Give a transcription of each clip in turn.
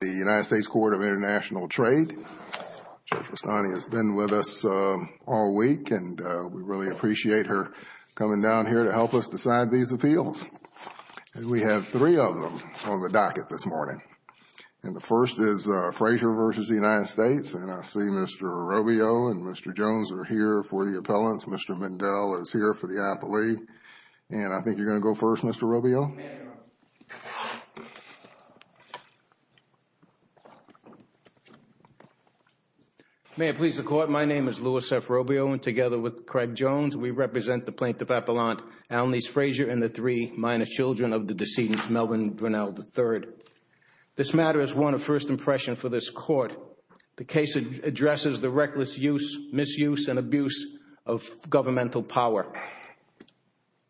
The United States Court of International Trade, Judge Rustani, has been with us all week, and we really appreciate her coming down here to help us decide these appeals. And we have three of them on the docket this morning. And the first is Frazier v. United States. And I see Mr. Robio and Mr. Jones are here for the appellants. Mr. Mindell is here for the appellee. And I think you're going to go first, Mr. Robio. Mr. Robio May I please the Court? My name is Louis F. Robio, and together with Craig Jones, we represent the plaintiff appellant Alnese Frazier and the three minor children of the decedent Melvin Brunel III. This matter is one of first impression for this Court. The case addresses the reckless use, misuse, and abuse of governmental power.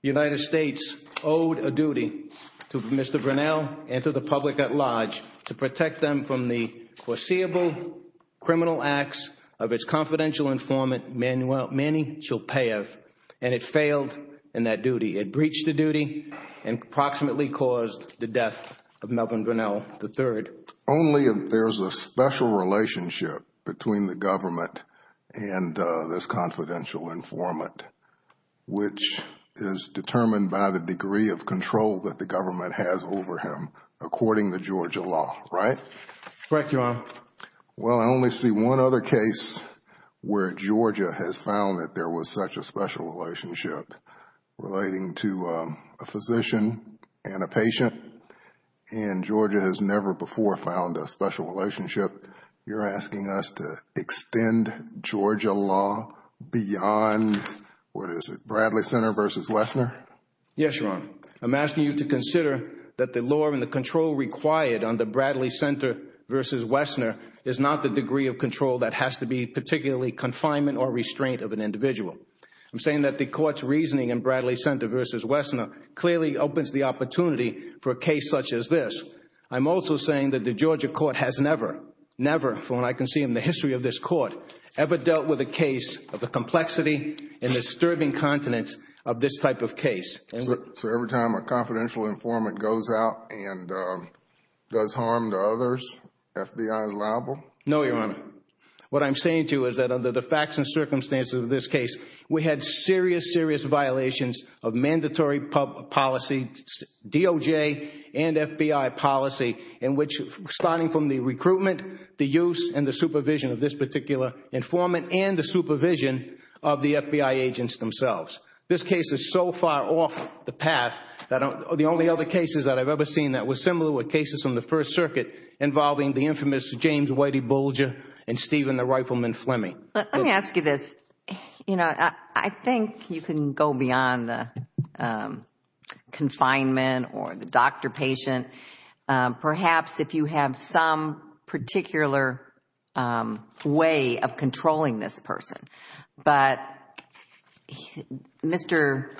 The United States owed a duty to Mr. Brunel and to the public at large to protect them from the foreseeable criminal acts of its confidential informant, Manny Chopaev, and it failed in that duty. It breached the duty and approximately caused the death of Melvin Brunel III. Only if there's a special relationship between the government and this confidential informant. Which is determined by the degree of control that the government has over him, according to Georgia law, right? Correct, Your Honor. Well, I only see one other case where Georgia has found that there was such a special relationship relating to a physician and a patient. And Georgia has never before found a special relationship. You're asking us to extend Georgia law beyond, what is it, Bradley Center versus Wessner? Yes, Your Honor. I'm asking you to consider that the law and the control required under Bradley Center versus Wessner is not the degree of control that has to be particularly confinement or restraint of an individual. I'm saying that the Court's reasoning in Bradley Center versus Wessner clearly opens the opportunity for a case such as this. I'm also saying that the Georgia Court has never, never, from what I can see in the history of this Court, ever dealt with a case of the complexity and disturbing continence of this type of case. So every time a confidential informant goes out and does harm to others, FBI is liable? No, Your Honor. What I'm saying to you is that under the facts and circumstances of this case, we had serious, serious violations of mandatory policy, DOJ and FBI policy, in which starting from the recruitment, the use and the supervision of this particular informant and the supervision of the FBI agents themselves. This case is so far off the path that the only other cases that I've ever seen that were similar were cases from the First Circuit involving the infamous James Whitey Bulger and Stephen the Rifleman Fleming. Let me ask you this. You know, I think you can go beyond the confinement or the doctor-patient, perhaps if you have some particular way of controlling this person. But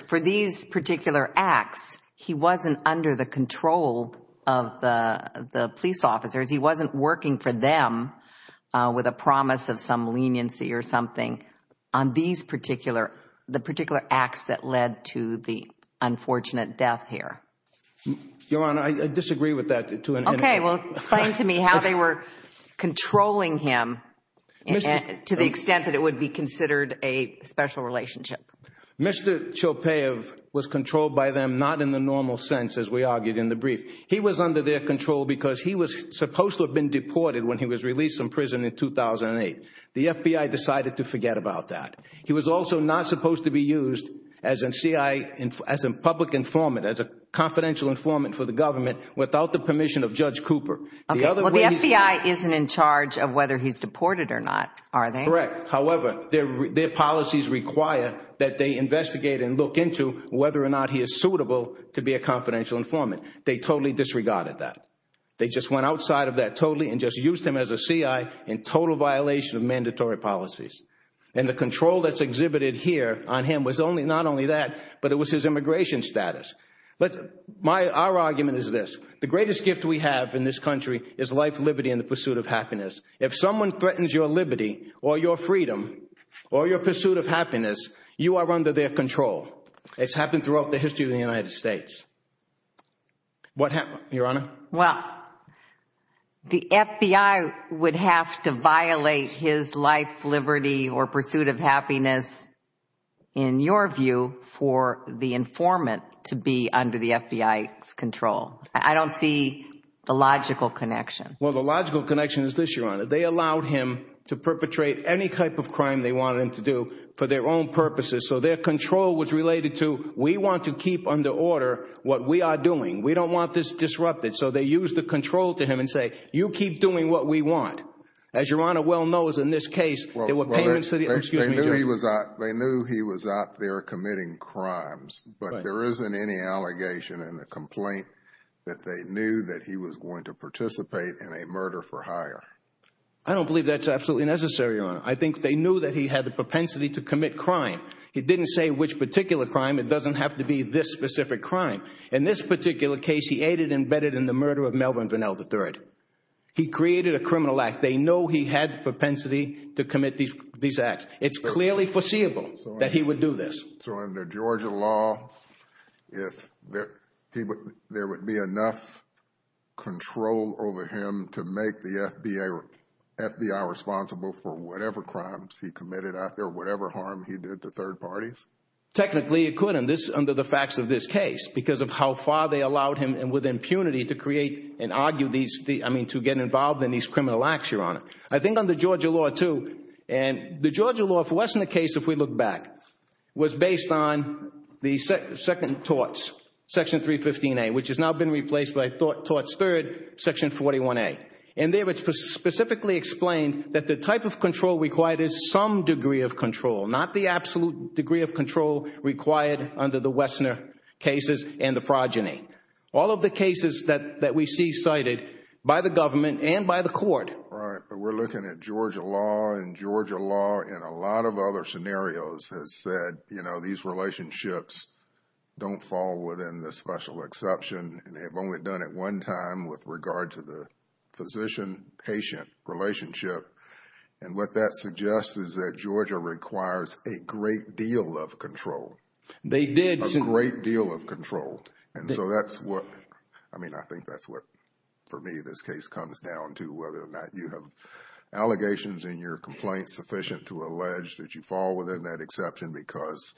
for these particular acts, he wasn't under the control of the police officers. He wasn't working for them with a promise of some leniency or something on these particular, the particular acts that led to the unfortunate death here. Your Honor, I disagree with that, too. Okay, well, explain to me how they were controlling him to the extent that it would be considered a special relationship. Mr. Chopaev was controlled by them, not in the normal sense, as we argued in the brief. He was under their control because he was supposed to have been deported when he was released from prison in 2008. The FBI decided to forget about that. He was also not supposed to be used as a public informant, as a confidential informant for the government, without the permission of Judge Cooper. Okay, well, the FBI isn't in charge of whether he's deported or not, are they? Correct. However, their policies require that they investigate and look into whether or not he is suitable to be a confidential informant. They totally disregarded that. They just went outside of that totally and just used him as a CI in total violation of mandatory policies. And the control that's exhibited here on him was not only that, but it was his immigration status. Our argument is this. The greatest gift we have in this country is life, liberty, and the pursuit of happiness. If someone threatens your liberty or your freedom or your pursuit of happiness, you are under their control. It's happened throughout the history of the United States. What happened, Your Honor? Well, the FBI would have to violate his life, liberty, or pursuit of happiness, in your view, for the informant to be under the FBI's control. I don't see the logical connection. Well, the logical connection is this, Your Honor. They allowed him to perpetrate any type of crime they wanted him to do for their own purposes. So their control was related to, we want to keep under order what we are doing. We don't want this disrupted. So they used the control to him and say, you keep doing what we want. As Your Honor well knows in this case, there were payments to the, excuse me, Judge. They knew he was out there committing crimes, but there isn't any allegation in the complaint that they knew that he was going to participate in a murder for hire. I don't believe that's absolutely necessary, Your Honor. I think they knew that he had the propensity to commit crime. He didn't say which particular crime. It doesn't have to be this specific crime. In this particular case, he aided and abetted in the murder of Melvin Vanell III. He created a criminal act. They know he had the propensity to commit these acts. It's clearly foreseeable that he would do this. So under Georgia law, there would be enough control over him to make the FBI responsible for whatever crimes he committed out there, whatever harm he did to third parties? Technically, it could under the facts of this case because of how far they allowed him and with impunity to create and argue these, I mean, to get involved in these criminal acts, Your Honor. I think under Georgia law too, and the Georgia law, if it wasn't the case, if we look back, was based on the second torts, section 315A, which has now been replaced by torts third, section 41A. And there it's specifically explained that the type of control required is some degree of control, not the absolute degree of control required under the Wessner cases and the progeny. All of the cases that we see cited by the government and by the court. Right. But we're looking at Georgia law and Georgia law in a lot of other scenarios has said, you know, these relationships don't fall within the special exception. And they've only done it one time with regard to the physician-patient relationship. And what that suggests is that Georgia requires a great deal of control. They did. A great deal of control. And so that's what, I mean, I think that's what, for me, this case comes down to whether or not you have allegations in your complaint sufficient to allege that you fall within that exception because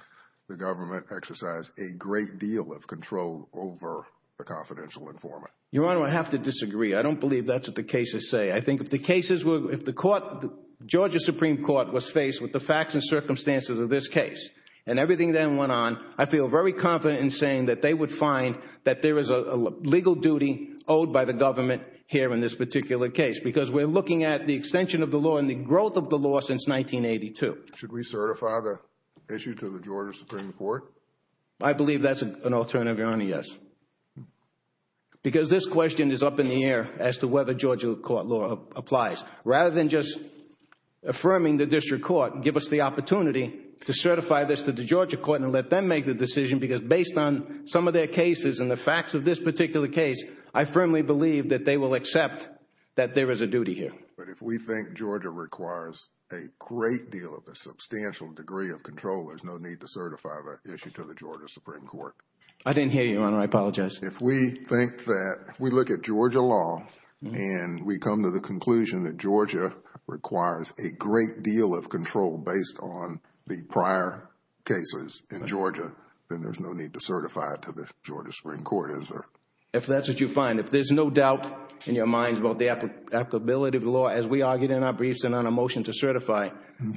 the government exercised a great deal of control over the confidential informant. Your Honor, I have to disagree. I don't believe that's what the cases say. I think if the cases were, if the court, Georgia Supreme Court was faced with the facts and circumstances of this case and everything then went on, I feel very confident in saying that they would find that there is a legal duty owed by the government here in this particular case. Because we're looking at the extension of the law and the growth of the law since 1982. Should we certify the issue to the Georgia Supreme Court? I believe that's an alternative, Your Honor, yes. Because this question is up in the air as to whether Georgia court law applies. Rather than just affirming the district court, give us the opportunity to certify this to the Georgia court and let them make the decision because based on some of their cases and the facts of this particular case, I firmly believe that they will accept that there is a duty here. But if we think Georgia requires a great deal of a substantial degree of control, there's no need to certify the issue to the Georgia Supreme Court. I didn't hear you, Your Honor. If we think that, if we look at Georgia law and we come to the conclusion that Georgia requires a great deal of control based on the prior cases in Georgia, then there's no need to certify it to the Georgia Supreme Court, is there? If that's what you find. If there's no doubt in your minds about the applicability of the law as we argued in our briefs and on a motion to certify,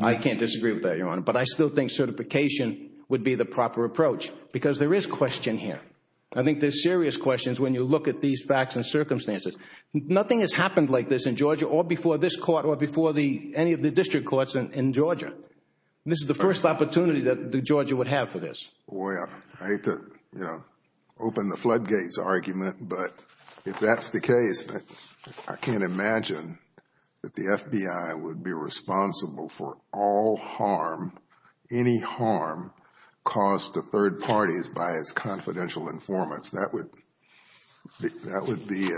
I can't disagree with that, Your Honor. But I still think certification would be the proper approach because there is question here. I think there's serious questions when you look at these facts and circumstances. Nothing has happened like this in Georgia or before this court or before any of the district courts in Georgia. This is the first opportunity that Georgia would have for this. Well, I hate to open the floodgates argument, but if that's the case, I can't imagine that the FBI would be responsible for all harm, any harm caused to third parties by confidential informants. That would be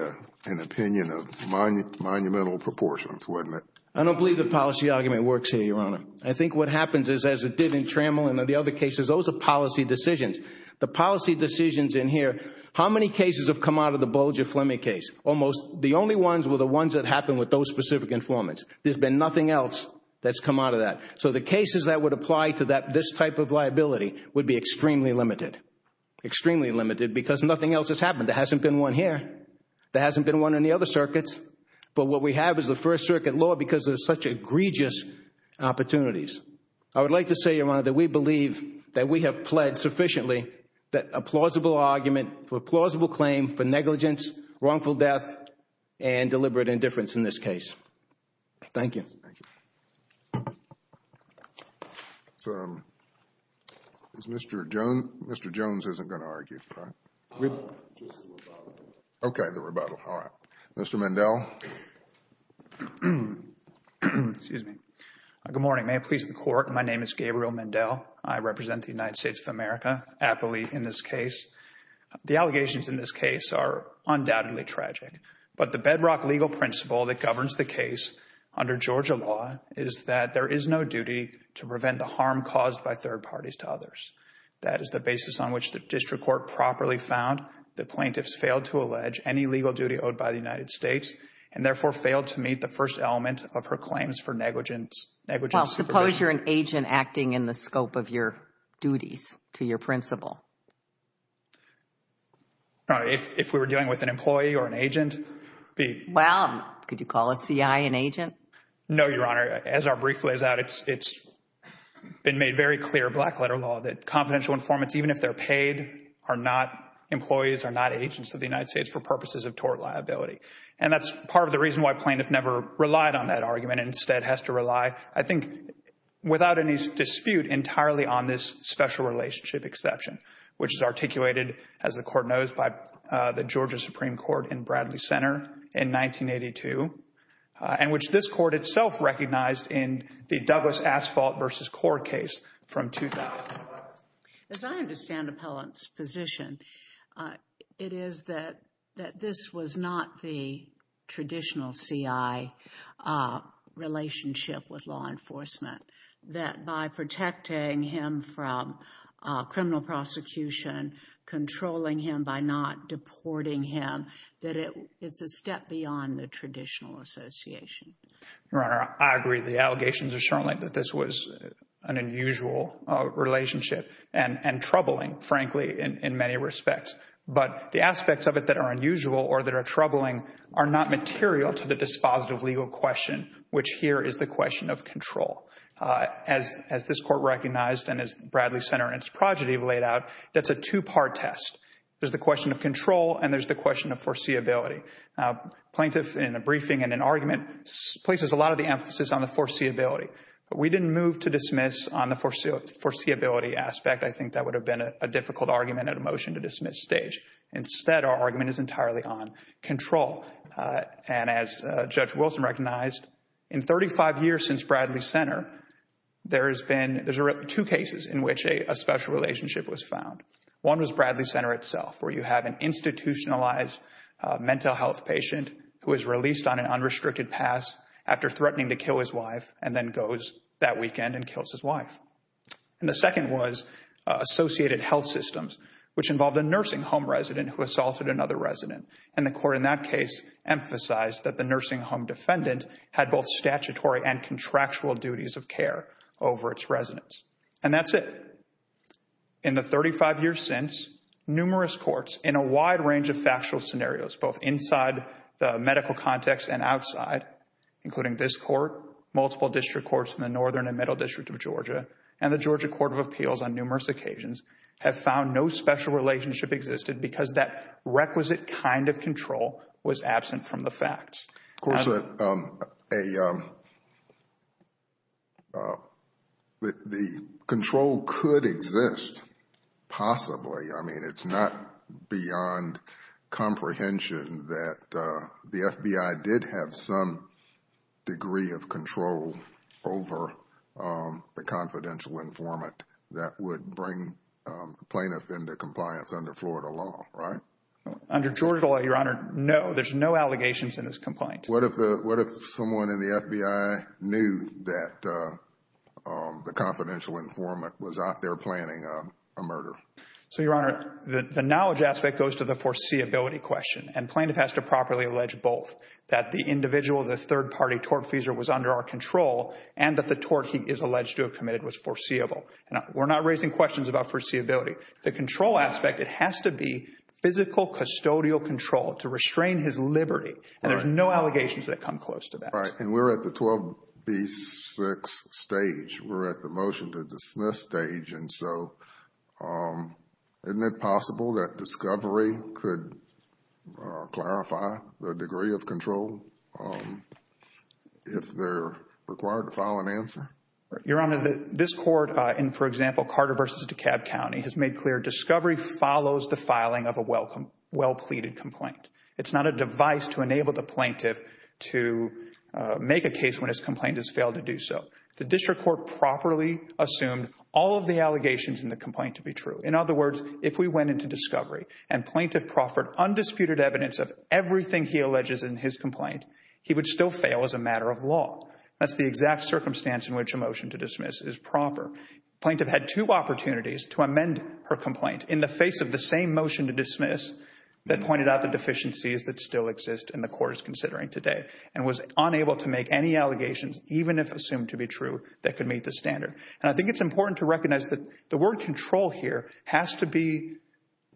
an opinion of monumental proportions, wouldn't it? I don't believe the policy argument works here, Your Honor. I think what happens is, as it did in Trammell and the other cases, those are policy decisions. The policy decisions in here, how many cases have come out of the Bolger-Fleming case? Almost the only ones were the ones that happened with those specific informants. There's been nothing else that's come out of that. So the cases that would apply to this type of liability would be extremely limited. Extremely limited because nothing else has happened. There hasn't been one here. There hasn't been one in the other circuits. But what we have is the First Circuit law because there's such egregious opportunities. I would like to say, Your Honor, that we believe that we have pledged sufficiently that a plausible argument for a plausible claim for negligence, wrongful death, and deliberate indifference in this case. Thank you. Thank you. So is Mr. Jones? Mr. Jones isn't going to argue, correct? No, just the rebuttal. Okay, the rebuttal. All right. Mr. Mendel. Excuse me. Good morning. May it please the Court. My name is Gabriel Mendel. I represent the United States of America, aptly in this case. The allegations in this case are undoubtedly tragic. But the bedrock legal principle that governs the case under Georgia law is that there is no duty to prevent the harm caused by third parties to others. That is the basis on which the district court properly found that plaintiffs failed to allege any legal duty owed by the United States and therefore failed to meet the first element of her claims for negligence. Well, suppose you're an agent acting in the scope of your duties to your principle. All right. If we were dealing with an employee or an agent, be— Well, could you call a C.I. an agent? No, Your Honor. As our brief lays out, it's been made very clear, black-letter law, that confidential informants, even if they're paid, are not employees, are not agents of the United States for purposes of tort liability. And that's part of the reason why plaintiff never relied on that argument and instead has to rely, I think, without any dispute, entirely on this special relationship exception. Which is articulated, as the court knows, by the Georgia Supreme Court in Bradley Center in 1982. And which this court itself recognized in the Douglas Asphalt v. Core case from 2000. As I understand Appellant's position, it is that this was not the traditional C.I. relationship with law enforcement. That by protecting him from criminal prosecution, controlling him by not deporting him, that it's a step beyond the traditional association. Your Honor, I agree. The allegations are strongly that this was an unusual relationship and troubling, frankly, in many respects. But the aspects of it that are unusual or that are troubling are not material to the dispositive legal question, which here is the question of control. As this court recognized and as Bradley Center and its progeny laid out, that's a two-part test. There's the question of control and there's the question of foreseeability. Plaintiff, in a briefing and an argument, places a lot of the emphasis on the foreseeability. But we didn't move to dismiss on the foreseeability aspect. I think that would have been a difficult argument at a motion to dismiss stage. Instead, our argument is entirely on control. And as Judge Wilson recognized, in 35 years since Bradley Center, there's two cases in which a special relationship was found. One was Bradley Center itself, where you have an institutionalized mental health patient who is released on an unrestricted pass after threatening to kill his wife and then goes that weekend and kills his wife. And the second was associated health systems, which involved a nursing home resident who assaulted another resident. And the court in that case emphasized that the nursing home defendant had both statutory and contractual duties of care over its residents. And that's it. In the 35 years since, numerous courts in a wide range of factual scenarios, both inside the medical context and outside, including this court, multiple district courts in the Northern and Middle District of Georgia, and the Georgia Court of Appeals on numerous occasions, have found no special relationship existed because that requisite kind of control was absent from the facts. Of course, the control could exist, possibly. I mean, it's not beyond comprehension that the FBI did have some degree of control over the confidential informant that would bring the plaintiff into compliance under Florida law, right? Under Georgia law, Your Honor, no. There's no allegations in this complaint. What if someone in the FBI knew that the confidential informant was out there planning a murder? So, Your Honor, the knowledge aspect goes to the foreseeability question. And plaintiff has to properly allege both. That the individual, this third-party tortfeasor was under our control and that the tort he is alleged to have committed was foreseeable. We're not raising questions about foreseeability. The control aspect, it has to be physical custodial control to restrain his liberty. And there's no allegations that come close to that. Right. And we're at the 12B6 stage. We're at the motion to dismiss stage. And so, isn't it possible that discovery could clarify the degree of control if they're required to file an answer? Your Honor, this court in, for example, Carter v. DeKalb County has made clear discovery follows the filing of a well-pleaded complaint. It's not a device to enable the plaintiff to make a case when his complaint has failed to do so. The district court properly assumed all of the allegations in the complaint to be true. In other words, if we went into discovery and plaintiff proffered undisputed evidence of everything he alleges in his complaint, he would still fail as a matter of law. That's the exact circumstance in which a motion to dismiss is proper. Plaintiff had two opportunities to amend her complaint in the face of the same motion to dismiss that pointed out the deficiencies that still exist in the court is considering today and was unable to make any allegations, even if assumed to be true, that could meet the standard. And I think it's important to recognize that the word control here has to be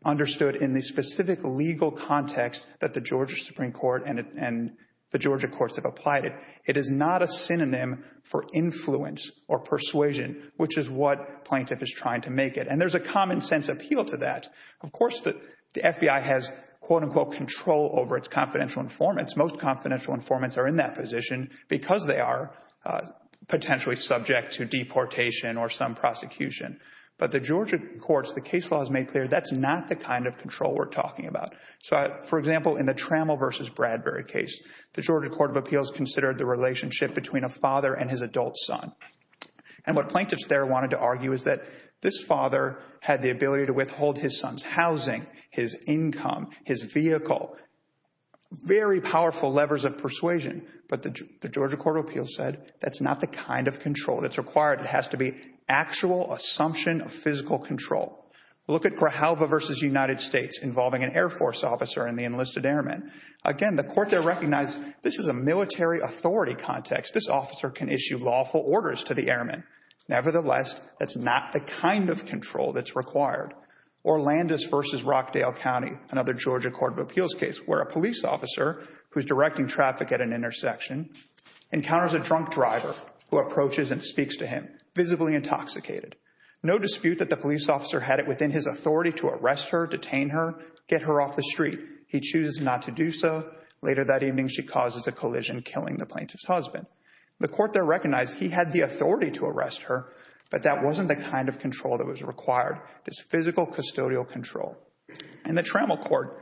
understood in the specific legal context that the Georgia Supreme Court and the Georgia courts have applied it. It is not a synonym for influence or persuasion, which is what plaintiff is trying to make it. And there's a common sense appeal to that. Of course, the FBI has, quote unquote, control over its confidential informants. Most confidential informants are in that position because they are potentially subject to deportation or some prosecution. But the Georgia courts, the case law has made clear that's not the kind of control we're talking about. So, for example, in the Trammell versus Bradbury case, the Georgia Court of Appeals considered the relationship between a father and his adult son. And what plaintiffs there wanted to argue is that this father had the ability to withhold his son's housing, his income, his vehicle, very powerful levers of persuasion. But the Georgia Court of Appeals said that's not the kind of control that's required. It has to be actual assumption of physical control. Look at Grajalva versus United States involving an Air Force officer and the enlisted airmen. Again, the court there recognized this is a military authority context. This officer can issue lawful orders to the airmen. Nevertheless, that's not the kind of control that's required. Orlando's versus Rockdale County, another Georgia Court of Appeals case, where a police officer who's directing traffic at an intersection encounters a drunk driver who approaches and speaks to him, visibly intoxicated. No dispute that the police officer had it within his authority to arrest her, detain her, get her off the street. He chooses not to do so. Later that evening, she causes a collision, killing the plaintiff's husband. The court there recognized he had the authority to arrest her, but that wasn't the kind of control that was required. This physical custodial control. And the Trammell court,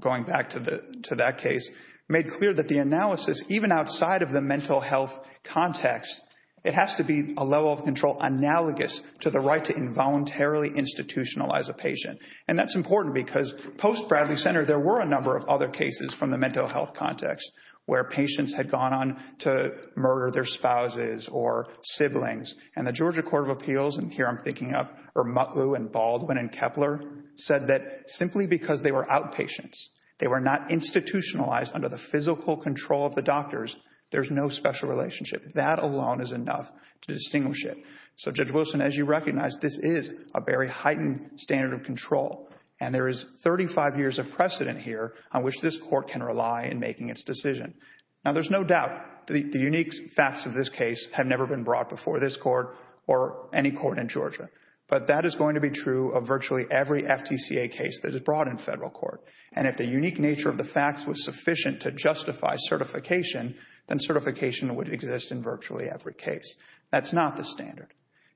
going back to that case, made clear that the analysis, even outside of the mental health context, it has to be a level of control analogous to the right to involuntarily institutionalize a patient. And that's important because post-Bradley Center, there were a number of other cases from the mental health context where patients had gone on to murder their spouses or siblings. And the Georgia Court of Appeals, and here I'm thinking of Ermutlu and Baldwin and Kepler, said that simply because they were outpatients, they were not institutionalized under the physical control of the doctors, there's no special relationship. That alone is enough to distinguish it. So Judge Wilson, as you recognize, this is a very heightened standard of control. And there is 35 years of precedent here on which this court can rely in making its decision. Now, there's no doubt the unique facts of this case have never been brought before this court or any court in Georgia. But that is going to be true of virtually every FTCA case that is brought in federal court. And if the unique nature of the facts was sufficient to justify certification, then certification would exist in virtually every case. That's not the standard.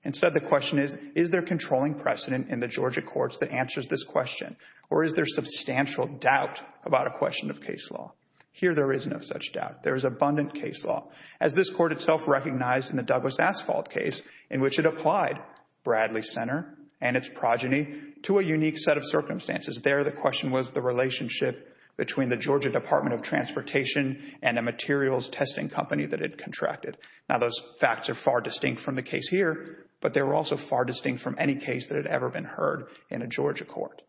Instead, the question is, is there controlling precedent in the Georgia courts that answers this question? Or is there substantial doubt about a question of case law? Here, there is no such doubt. There is abundant case law, as this court itself recognized in the Douglas Asphalt case in which it applied Bradley Center and its progeny to a unique set of circumstances. There, the question was the relationship between the Georgia Department of Transportation and a materials testing company that it contracted. Now, those facts are far distinct from the case here, but they were also far distinct from any case that had ever been heard in a Georgia court.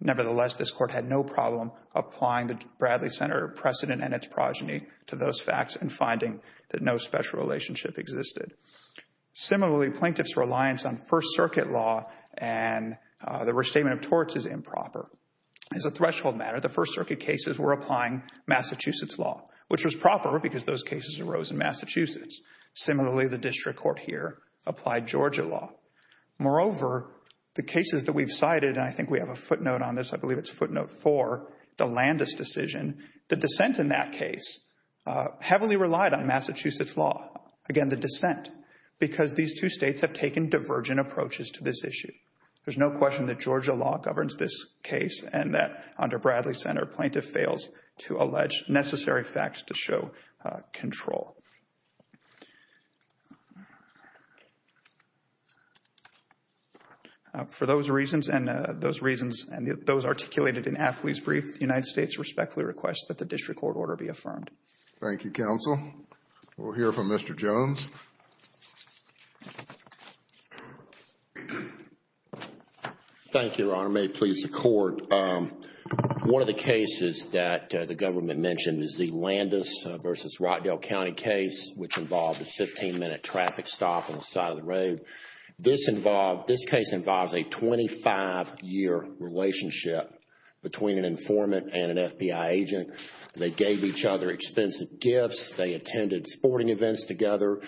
Nevertheless, this court had no problem applying the Bradley Center precedent and its progeny to those facts and finding that no special relationship existed. Similarly, plaintiffs' reliance on First Circuit law and the restatement of torts is improper. As a threshold matter, the First Circuit cases were applying Massachusetts law, which was proper because those cases arose in Massachusetts. Similarly, the district court here applied Georgia law. Moreover, the cases that we've cited, and I think we have a footnote on this, I believe it's footnote four, the Landis decision, the dissent in that case heavily relied on Massachusetts law. Again, the dissent, because these two states have taken divergent approaches to this issue. There's no question that Georgia law governs this case and that under Bradley Center, plaintiff fails to allege necessary facts to show control. For those reasons and those reasons, and those articulated in Apley's brief, the United States respectfully requests that the district court order be affirmed. Thank you, counsel. We'll hear from Mr. Jones. Thank you, Your Honor. May it please the court. One of the cases that the government mentioned is the Landis versus Rockdale County case, which involved a 15-minute traffic stop on the side of the road. This case involves a 25-year relationship between an informant and an FBI agent. They gave each other expensive gifts. They attended sporting events together.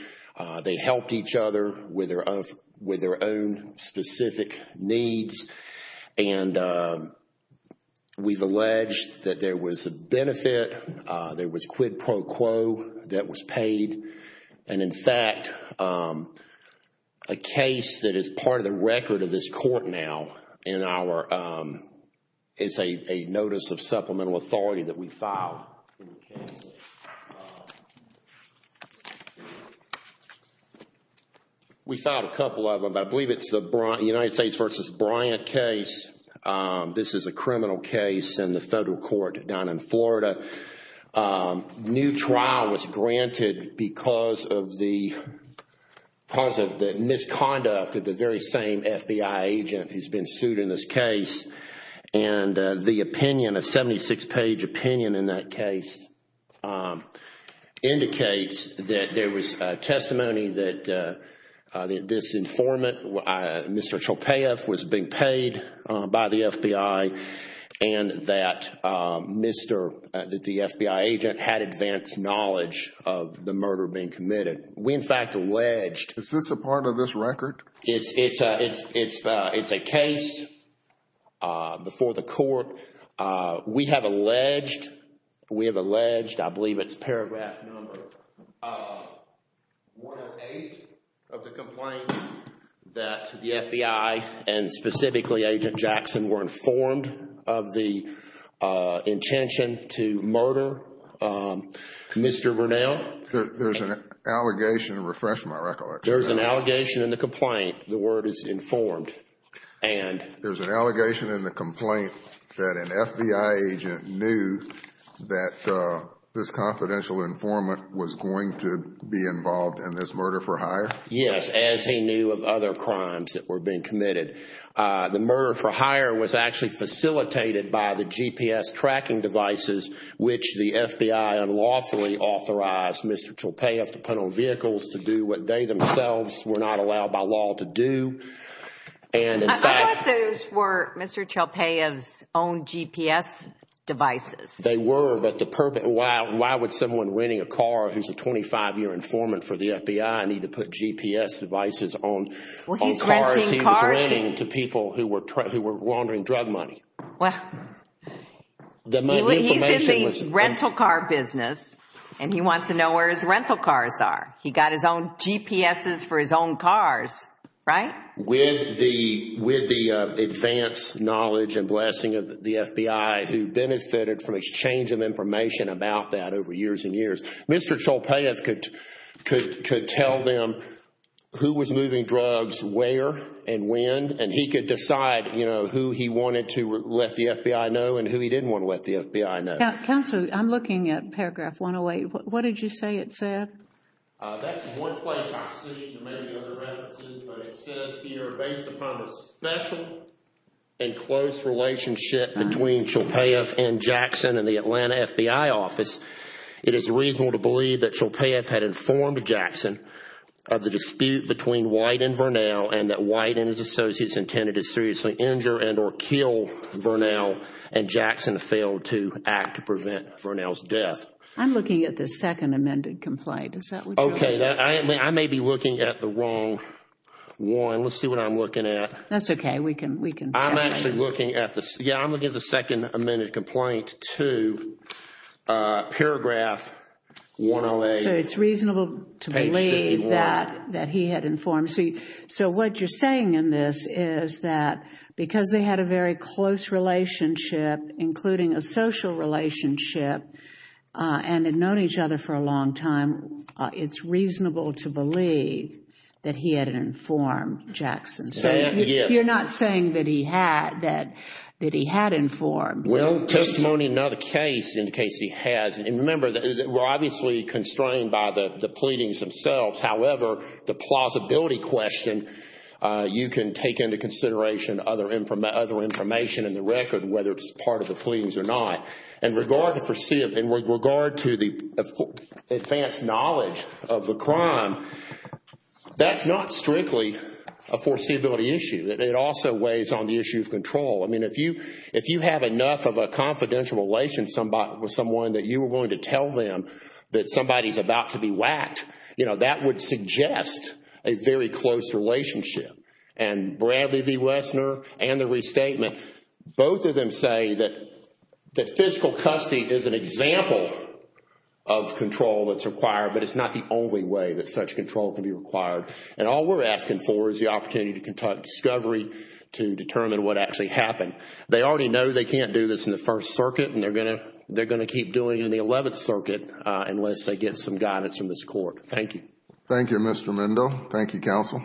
They helped each other with their own specific needs. And we've alleged that there was a benefit. There was quid pro quo that was paid. And in fact, a case that is part of the record of this court now in our, it's a notice of supplemental authority that we filed. We filed a couple of them. I believe it's the United States versus Bryant case. This is a criminal case in the federal court down in Florida. New trial was granted because of the misconduct of the very same FBI agent who's been sued in this case. And the opinion, a 76-page opinion in that case, indicates that there was testimony that this informant, Mr. Chopaeff, was being paid by the FBI and that the FBI agent had advanced knowledge of the murder being committed. We, in fact, alleged- Is this a part of this record? It's a case before the court. We have alleged, I believe it's paragraph number 108 of the complaint that the FBI and specifically Agent Jackson were informed of the intention to murder Mr. Vernell. There's an allegation, refresh my recollection. There's an allegation in the complaint. The word is informed and- An FBI agent knew that this confidential informant was going to be involved in this murder for hire? Yes, as he knew of other crimes that were being committed. The murder for hire was actually facilitated by the GPS tracking devices which the FBI unlawfully authorized Mr. Chopaeff to put on vehicles to do what they themselves were not allowed by law to do. And in fact- I thought those were Mr. Chopaeff's own GPS devices. They were, but the purpose- Why would someone renting a car who's a 25-year informant for the FBI need to put GPS devices on cars he was renting to people who were laundering drug money? Well, he's in the rental car business and he wants to know where his rental cars are. He got his own GPSs for his own cars, right? With the advanced knowledge and blessing of the FBI who benefited from exchange of information about that over years and years, Mr. Chopaeff could tell them who was moving drugs where and when and he could decide who he wanted to let the FBI know and who he didn't want to let the FBI know. Counselor, I'm looking at paragraph 108. What did you say it said? That's one place I've seen. Maybe other references, but it says here, based upon the special and close relationship between Chopaeff and Jackson and the Atlanta FBI office, it is reasonable to believe that Chopaeff had informed Jackson of the dispute between White and Vernell and that White and his associates intended to seriously injure and or kill Vernell and Jackson failed to act to prevent Vernell's death. Is that what you're- I may be looking at the wrong one. Let's see what I'm looking at. That's okay, we can- I'm actually looking at the- Yeah, I'm looking at the second amended complaint to paragraph 108. So it's reasonable to believe that he had informed. So what you're saying in this is that because they had a very close relationship, including a social relationship and had known each other for a long time, it's reasonable to believe that he had informed Jackson. So you're not saying that he had informed. Well, testimony not a case in the case he has. And remember, we're obviously constrained by the pleadings themselves. However, the plausibility question, you can take into consideration other information in the record, whether it's part of the pleadings or not. In regard to the advanced knowledge of the crime, that's not strictly a foreseeability issue. It also weighs on the issue of control. I mean, if you have enough of a confidential relation with someone that you were willing to tell them that somebody's about to be whacked, you know, that would suggest a very close relationship. And Bradley v. Wessner and the restatement, both of them say that physical custody is an example of control that's required, but it's not the only way that such control can be required. And all we're asking for is the opportunity to conduct discovery to determine what actually happened. They already know they can't do this in the First Circuit, and they're going to keep doing it in the Eleventh Circuit unless they get some guidance from this court. Thank you. Thank you, Mr. Mendo. Thank you, counsel. Thank you.